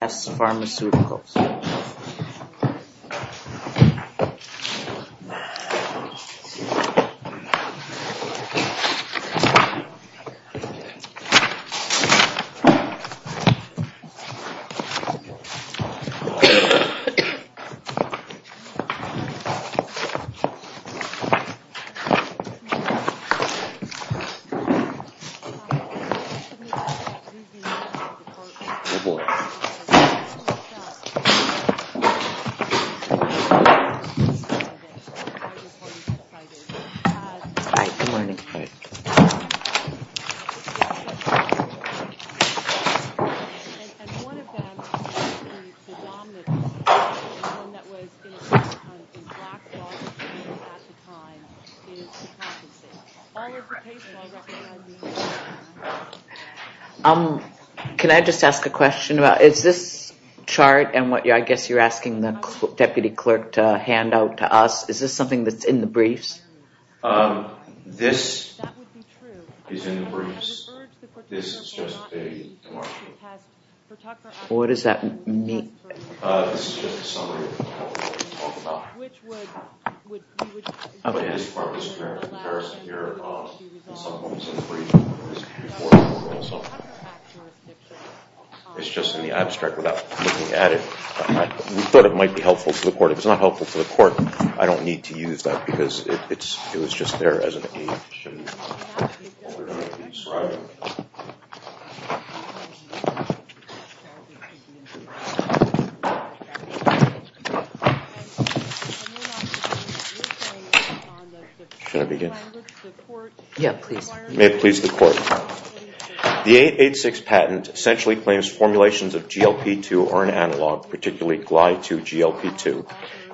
Re NPS Pharmaceuticals, Inc. Can I just ask a question about, is this, is this, is this, is this, is this, is this, I guess you're asking the Deputy Clerk to hand out to us, is this something that's in the briefs? Um, this is in the briefs. This is just a demarcation. What does that mean? Uh, this is just a summary of what we talked about. Okay. But this part was a comparison here of some of what was in the briefs before the court also. It's just in the abstract without looking at it. I thought it might be helpful to the court. If it's not helpful to the court, I don't need to use that because it was just there as an aid. Should I begin? Yeah, please. May it please the court. The 886 patent essentially claims formulations of GLP-2 are an analog, particularly Gly-2-GLP-2,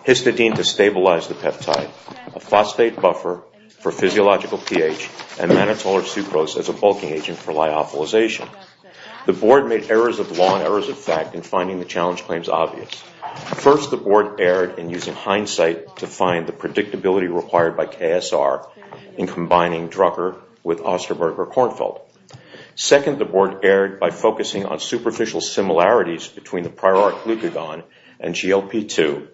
histidine to stabilize the peptide, a phosphate buffer for physiological pH, and mannitol or sucrose as a bulking agent for lyophilization. The board made errors of law and errors of fact in finding the challenge claims obvious. First, the board erred in using hindsight to find the predictability required by KSR in combining Drucker with Osterberg or Kornfeld. Second, the board erred by focusing on superficial similarities between the prior arc glucagon and GLP-2,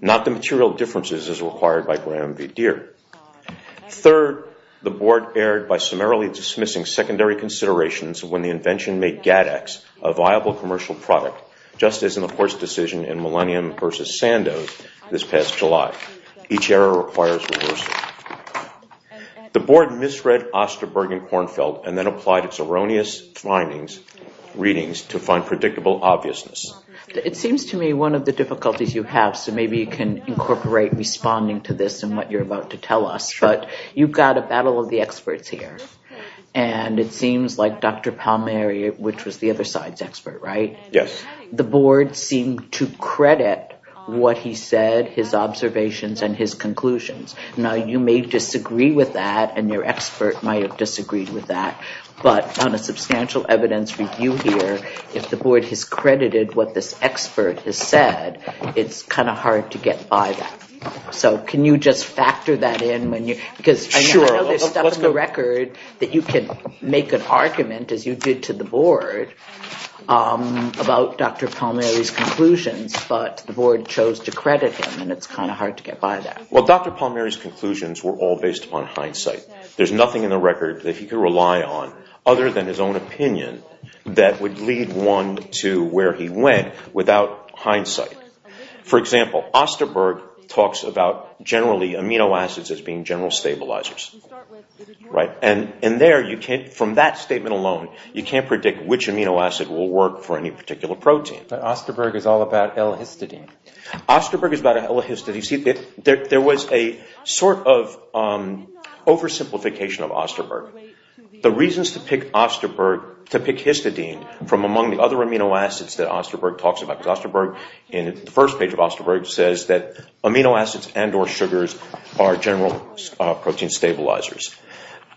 not the material differences as required by Graham v. Deere. Third, the board erred by summarily dismissing secondary considerations when the invention made GADX a viable commercial product, just as in the court's decision in Millennium v. Sandoz this past July. Each error requires reversal. The board misread Osterberg and Kornfeld and then applied its erroneous findings, readings, to find predictable obviousness. It seems to me one of the difficulties you have, so maybe you can incorporate responding to this and what you're about to tell us, but you've got a battle of the experts here, and it seems like Dr. Palmieri, which was the other side's expert, right? Yes. The board seemed to credit what he said, his observations, and his conclusions. Now, you may disagree with that, and your expert might have disagreed with that, but on a substantial evidence review here, if the board has credited what this expert has said, it's kind of hard to get by that. So can you just factor that in? I know there's stuff in the record that you can make an argument, as you did to the board, about Dr. Palmieri's conclusions, but the board chose to credit him, and it's kind of hard to get by that. Well, Dr. Palmieri's conclusions were all based upon hindsight. There's nothing in the record that he could rely on other than his own opinion that would lead one to where he went without hindsight. For example, Osterberg talks about, generally, amino acids as being general stabilizers, right? And there, from that statement alone, you can't predict which amino acid will work for any particular protein. But Osterberg is all about L-histidine. Osterberg is about L-histidine. You see, there was a sort of oversimplification of Osterberg. The reasons to pick histidine from among the other amino acids that Osterberg talks about, because Osterberg, in the first page of Osterberg, says that amino acids and or sugars are general protein stabilizers.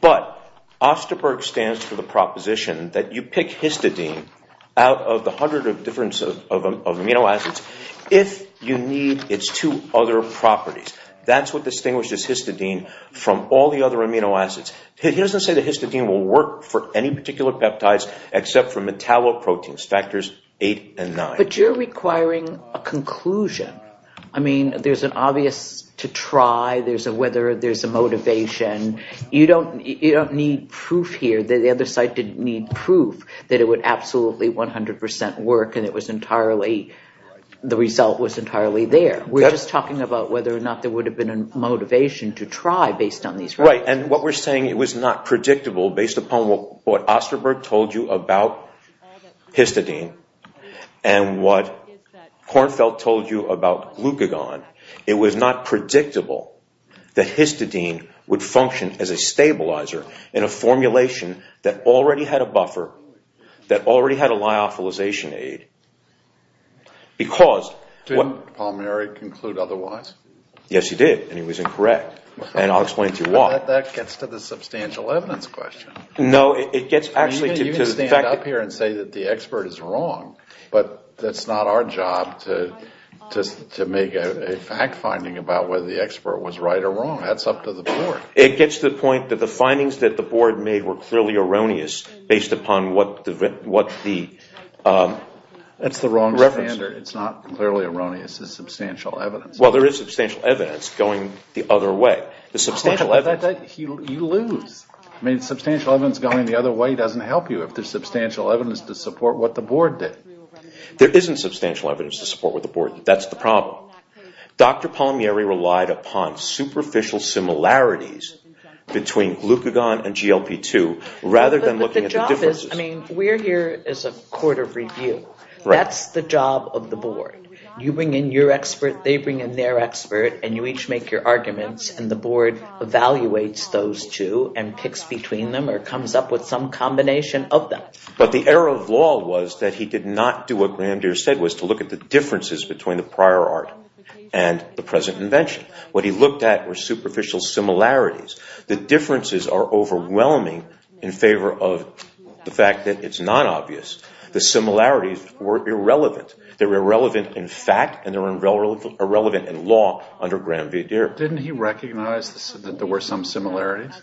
But Osterberg stands for the proposition that you pick histidine out of the hundreds of amino acids if you need its two other properties. That's what distinguishes histidine from all the other amino acids. He doesn't say that histidine will work for any particular peptides except for metalloproteins, factors 8 and 9. But you're requiring a conclusion. I mean, there's an obvious to try, there's a whether, there's a motivation. You don't need proof here. The other site didn't need proof that it would absolutely 100% work and the result was entirely there. We're just talking about whether or not there would have been a motivation to try based on these results. Right, and what we're saying it was not predictable based upon what Osterberg told you about histidine and what Kornfeld told you about glucagon. It was not predictable that histidine would function as a stabilizer in a formulation that already had a buffer, that already had a lyophilization aid, because... Didn't Palmieri conclude otherwise? Yes, he did, and he was incorrect, and I'll explain to you why. But that gets to the substantial evidence question. No, it gets actually to the fact... I mean, you can stand up here and say that the expert is wrong, but that's not our job to make a fact finding about whether the expert was right or wrong. That's up to the board. It gets to the point that the findings that the board made were clearly erroneous based upon what the reference... That's the wrong standard. It's not clearly erroneous. It's substantial evidence. Well, there is substantial evidence going the other way. You lose. I mean, substantial evidence going the other way doesn't help you if there's substantial evidence to support what the board did. There isn't substantial evidence to support what the board did. That's the problem. Dr. Palmieri relied upon superficial similarities between glucagon and GLP-2 rather than looking at the differences. I mean, we're here as a court of review. That's the job of the board. You bring in your expert, they bring in their expert, and you each make your arguments, and the board evaluates those two and picks between them or comes up with some combination of them. But the error of law was that he did not do what Grandier said, was to look at the differences between the prior art and the present invention. What he looked at were superficial similarities. The differences are overwhelming in favor of the fact that it's not obvious. The similarities were irrelevant. They were irrelevant in fact and they were irrelevant in law under Grandier. Didn't he recognize that there were some similarities?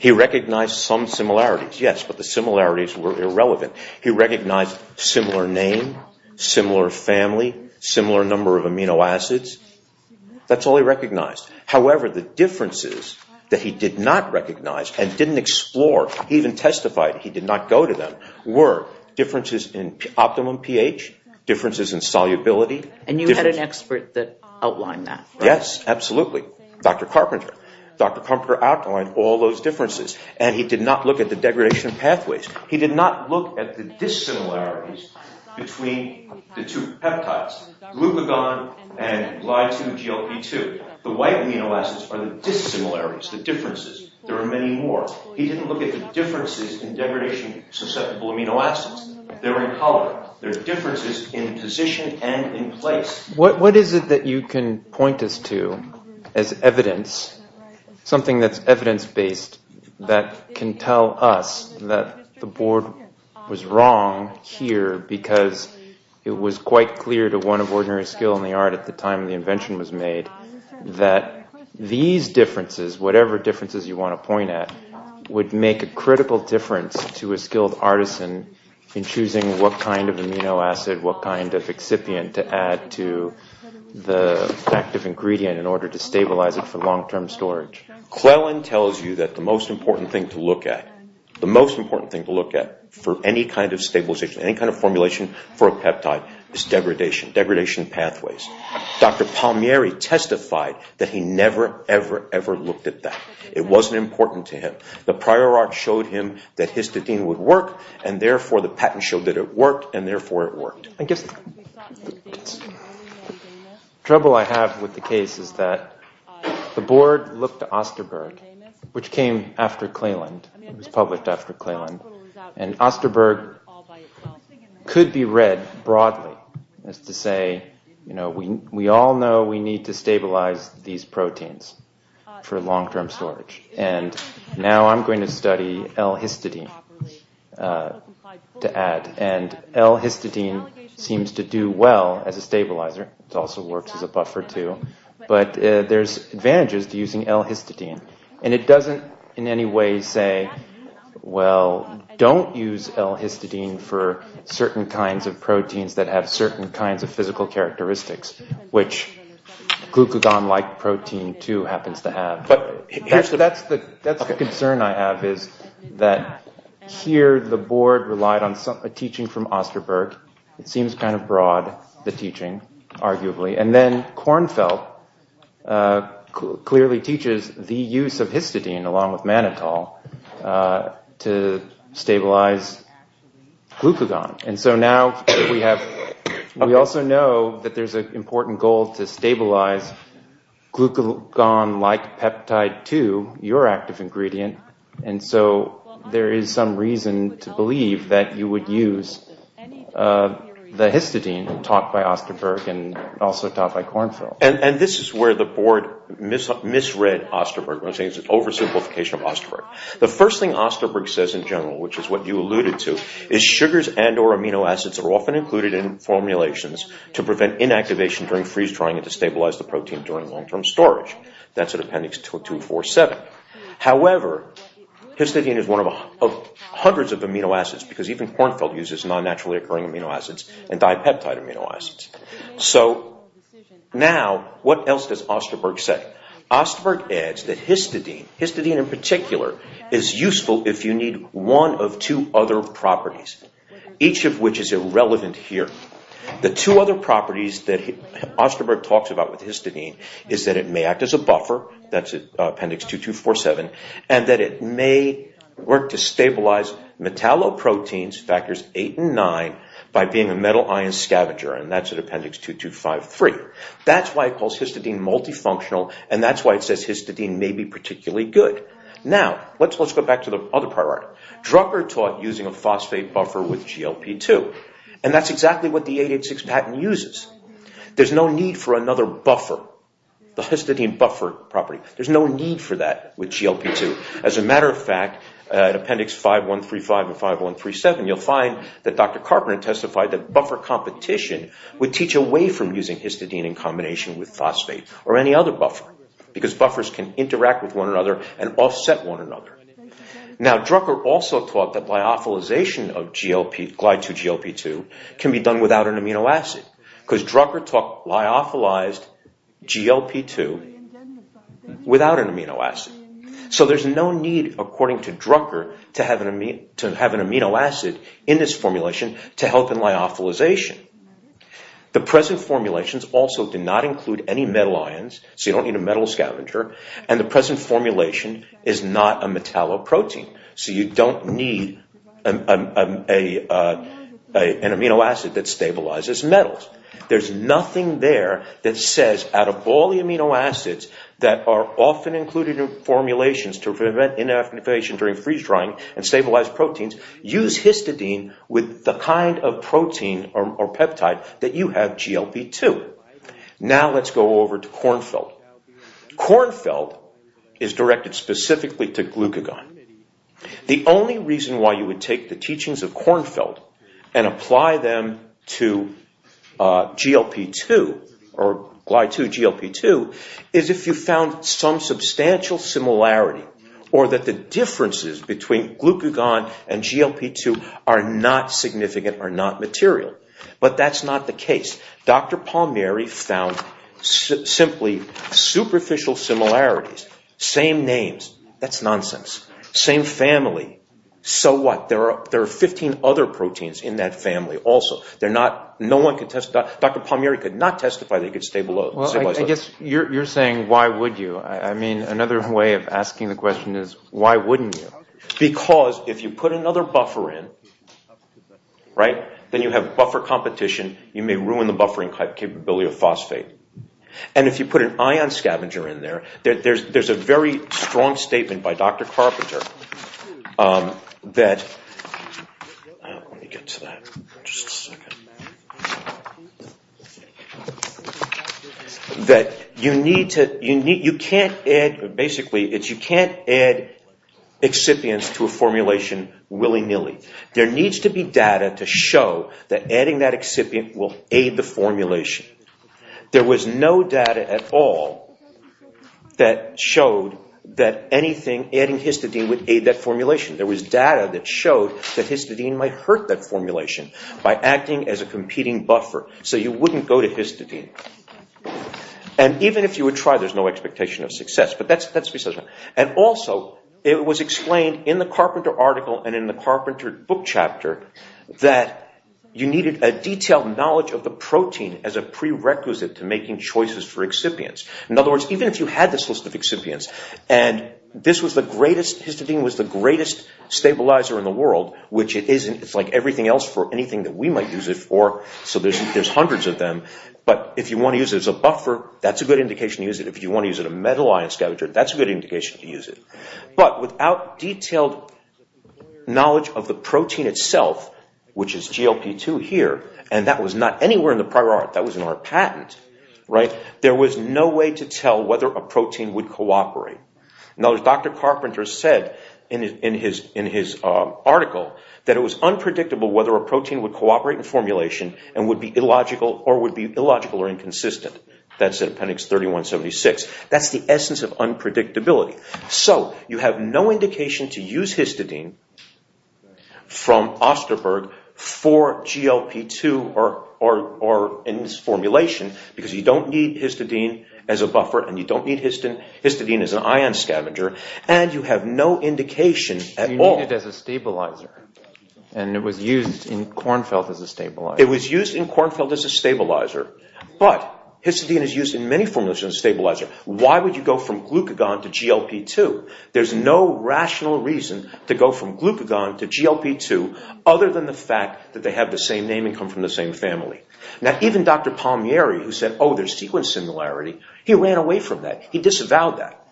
He recognized some similarities, yes, but the similarities were irrelevant. He recognized similar name, similar family, similar number of amino acids. That's all he recognized. However, the differences that he did not recognize and didn't explore, he even testified he did not go to them, were differences in optimum pH, differences in solubility. And you had an expert that outlined that, right? Yes, absolutely, Dr. Carpenter. Dr. Carpenter outlined all those differences and he did not look at the degradation of pathways. He did not look at the dissimilarities between the two peptides, glucagon and Gly2-GLP2. The white amino acids are the dissimilarities, the differences. There are many more. He didn't look at the differences in degradation of susceptible amino acids. They're in color. There are differences in position and in place. What is it that you can point us to as evidence, something that's evidence-based that can tell us that the board was wrong here because it was quite clear to one of ordinary skill in the art at the time the invention was made that these differences, whatever differences you want to point at, would make a critical difference to a skilled artisan in choosing what kind of amino acid, what kind of excipient to add to the active ingredient in order to stabilize it for long-term storage. Quellen tells you that the most important thing to look at, the most important thing to look at for any kind of stabilization, any kind of formulation for a peptide is degradation, degradation of pathways. Dr. Palmieri testified that he never, ever, ever looked at that. It wasn't important to him. The prior art showed him that histidine would work, and therefore the patent showed that it worked, and therefore it worked. I guess the trouble I have with the case is that the board looked at Osterberg, It was published after Cleland. And Osterberg could be read broadly as to say, you know, we all know we need to stabilize these proteins for long-term storage. And now I'm going to study L-histidine to add. And L-histidine seems to do well as a stabilizer. It also works as a buffer too. But there's advantages to using L-histidine. And it doesn't in any way say, well, don't use L-histidine for certain kinds of proteins that have certain kinds of physical characteristics, which glucagon-like protein too happens to have. But that's the concern I have is that here the board relied on a teaching from Osterberg. It seems kind of broad, the teaching, arguably. And then Kornfeld clearly teaches the use of histidine along with mannitol to stabilize glucagon. And so now we also know that there's an important goal to stabilize glucagon-like peptide too, your active ingredient. And so there is some reason to believe that you would use the histidine taught by Osterberg and also taught by Kornfeld. And this is where the board misread Osterberg. It was an oversimplification of Osterberg. The first thing Osterberg says in general, which is what you alluded to, is sugars and or amino acids are often included in formulations to prevent inactivation during freeze drying and to stabilize the protein during long-term storage. That's at appendix 247. However, histidine is one of hundreds of amino acids because even Kornfeld uses non-naturally occurring amino acids and dipeptide amino acids. So now what else does Osterberg say? Osterberg adds that histidine, histidine in particular, is useful if you need one of two other properties, each of which is irrelevant here. The two other properties that Osterberg talks about with histidine is that it may act as a buffer, that's at appendix 2247, and that it may work to stabilize metalloproteins, factors 8 and 9, by being a metal ion scavenger, and that's at appendix 2253. That's why it calls histidine multifunctional, and that's why it says histidine may be particularly good. Now, let's go back to the other priority. Drucker taught using a phosphate buffer with GLP-2, and that's exactly what the 886 patent uses. There's no need for another buffer. The histidine buffer property, there's no need for that with GLP-2. As a matter of fact, at appendix 5135 and 5137, you'll find that Dr. Carpenter testified that buffer competition would teach away from using histidine in combination with phosphate or any other buffer, because buffers can interact with one another and offset one another. Now, Drucker also taught that lyophilization of GLP-2, GLP-2, can be done without an amino acid, because Drucker taught lyophilized GLP-2 without an amino acid. So there's no need, according to Drucker, to have an amino acid in this formulation to help in lyophilization. The present formulations also do not include any metal ions, so you don't need a metal scavenger, and the present formulation is not a metalloprotein, so you don't need an amino acid that stabilizes metals. There's nothing there that says, out of all the amino acids that are often included in formulations to prevent inactivation during freeze-drying and stabilize proteins, use histidine with the kind of protein or peptide that you have GLP-2. Now let's go over to Kornfeld. Kornfeld is directed specifically to glucagon. The only reason why you would take the teachings of Kornfeld and apply them to GLP-2, or Gly-2-GLP-2, is if you found some substantial similarity, or that the differences between glucagon and GLP-2 are not significant, are not material. But that's not the case. Dr. Palmieri found simply superficial similarities. Same names. That's nonsense. Same family. So what? There are 15 other proteins in that family also. Dr. Palmieri could not testify they could stabilize... Well, I guess you're saying, why would you? I mean, another way of asking the question is, why wouldn't you? Because if you put another buffer in, right, then you have buffer competition. You may ruin the buffering capability of phosphate. And if you put an ion scavenger in there, there's a very strong statement by Dr. Carpenter that... Let me get to that in just a second. That you need to... You can't add... There needs to be data to show that adding that excipient will aid the formulation. There was no data at all that showed that anything adding histidine would aid that formulation. There was data that showed that histidine might hurt that formulation by acting as a competing buffer. So you wouldn't go to histidine. And even if you would try, there's no expectation of success. And also, it was explained in the Carpenter article and in the Carpenter book chapter that you needed a detailed knowledge of the protein as a prerequisite to making choices for excipients. In other words, even if you had this list of excipients, and this was the greatest... Histidine was the greatest stabilizer in the world, which it isn't. It's like everything else for anything that we might use it for. So there's hundreds of them. But if you want to use it as a buffer, that's a good indication to use it. If you want to use it as a metal ion scavenger, that's a good indication to use it. But without detailed knowledge of the protein itself, which is GLP-2 here, and that was not anywhere in the prior art. That was in our patent. There was no way to tell whether a protein would cooperate. Now, as Dr. Carpenter said in his article, that it was unpredictable whether a protein would cooperate in formulation and would be illogical or would be illogical or inconsistent. That's in appendix 3176. That's the essence of unpredictability. So you have no indication to use histidine from Osterberg for GLP-2 or in its formulation, because you don't need histidine as a buffer and you don't need histidine as an ion scavenger, and you have no indication at all... You need it as a stabilizer. And it was used in Kornfeld as a stabilizer. It was used in Kornfeld as a stabilizer. But histidine is used in many formulas as a stabilizer. Why would you go from glucagon to GLP-2? There's no rational reason to go from glucagon to GLP-2 other than the fact that they have the same name and come from the same family. Now, even Dr. Palmieri, who said, oh, there's sequence similarity, he ran away from that. He disavowed that.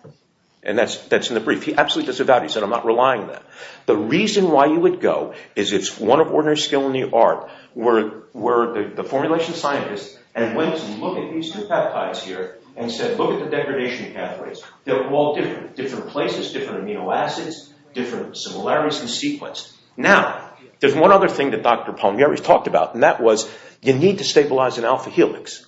And that's in the brief. He absolutely disavowed it. He said, I'm not relying on that. The reason why you would go is if one of Ordinary Skill and the Art were the formulation scientists and went to look at these two peptides here and said, look at the degradation pathways. They're all different. Different places, different amino acids, different similarities in sequence. Now, there's one other thing that Dr. Palmieri talked about and that was, you need to stabilize an alpha helix.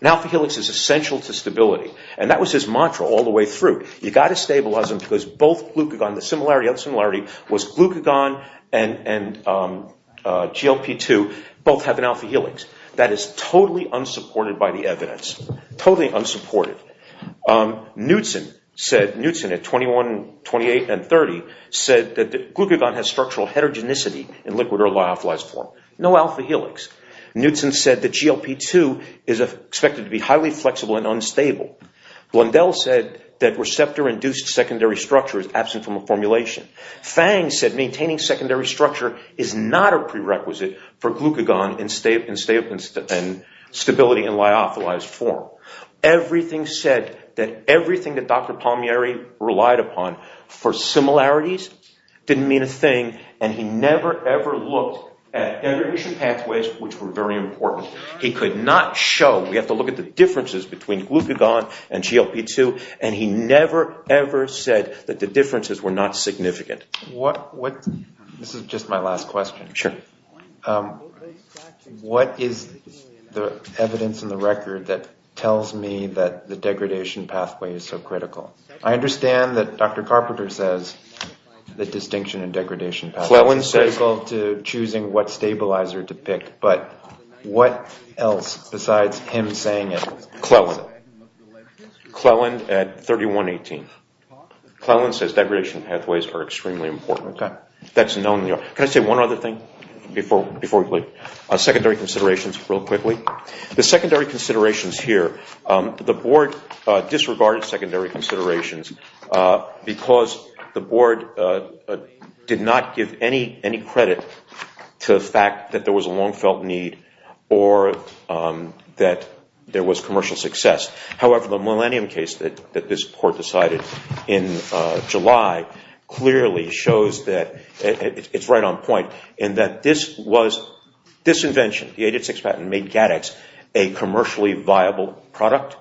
An alpha helix is essential to stability. And that was his mantra all the way through. You've got to stabilize them because both glucagon, the similarity of similarity, was glucagon and GLP-2 both have an alpha helix. That is totally unsupported by the evidence. Totally unsupported. Knudsen at 21, 28, and 30 said that glucagon has structural heterogeneity in liquid or lyophilized form. No alpha helix. Knudsen said that GLP-2 is expected to be highly flexible and unstable. Blundell said that receptor-induced secondary structure is absent from a formulation. Fang said maintaining secondary structure is not a prerequisite for glucagon in stability in lyophilized form. Everything said, everything that Dr. Palmieri relied upon for similarities didn't mean a thing and he never, ever looked at inhibition pathways, which were very important. He could not show, we have to look at the differences between glucagon and GLP-2 and he never, ever said that the differences were not significant. This is just my last question. Sure. What is the evidence in the record that tells me that the degradation pathway is so critical? I understand that Dr. Carpenter says the distinction in degradation pathways is critical to choosing what stabilizer to pick, but what else besides him saying it? Cleland. Cleland at 31, 18. Cleland says degradation pathways are extremely important. That's known. Can I say one other thing before we leave? Secondary considerations, real quickly. The secondary considerations here, the board disregarded secondary considerations because the board did not give any credit to the fact that there was a long felt need or that there was commercial success. However, the millennium case that this court decided in July clearly shows that it's right on point in that this was disinvention. The 886 patent made GADX a commercially viable product.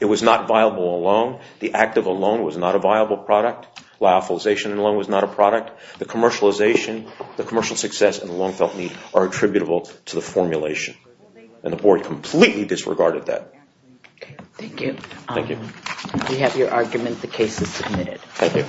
It was not viable alone. The active alone was not a viable product. Lyophilization alone was not a product. The commercialization, the commercial success and the long felt need are attributable to the formulation. And the board completely disregarded that. Thank you. Thank you. We have your argument. The case is submitted. Thank you.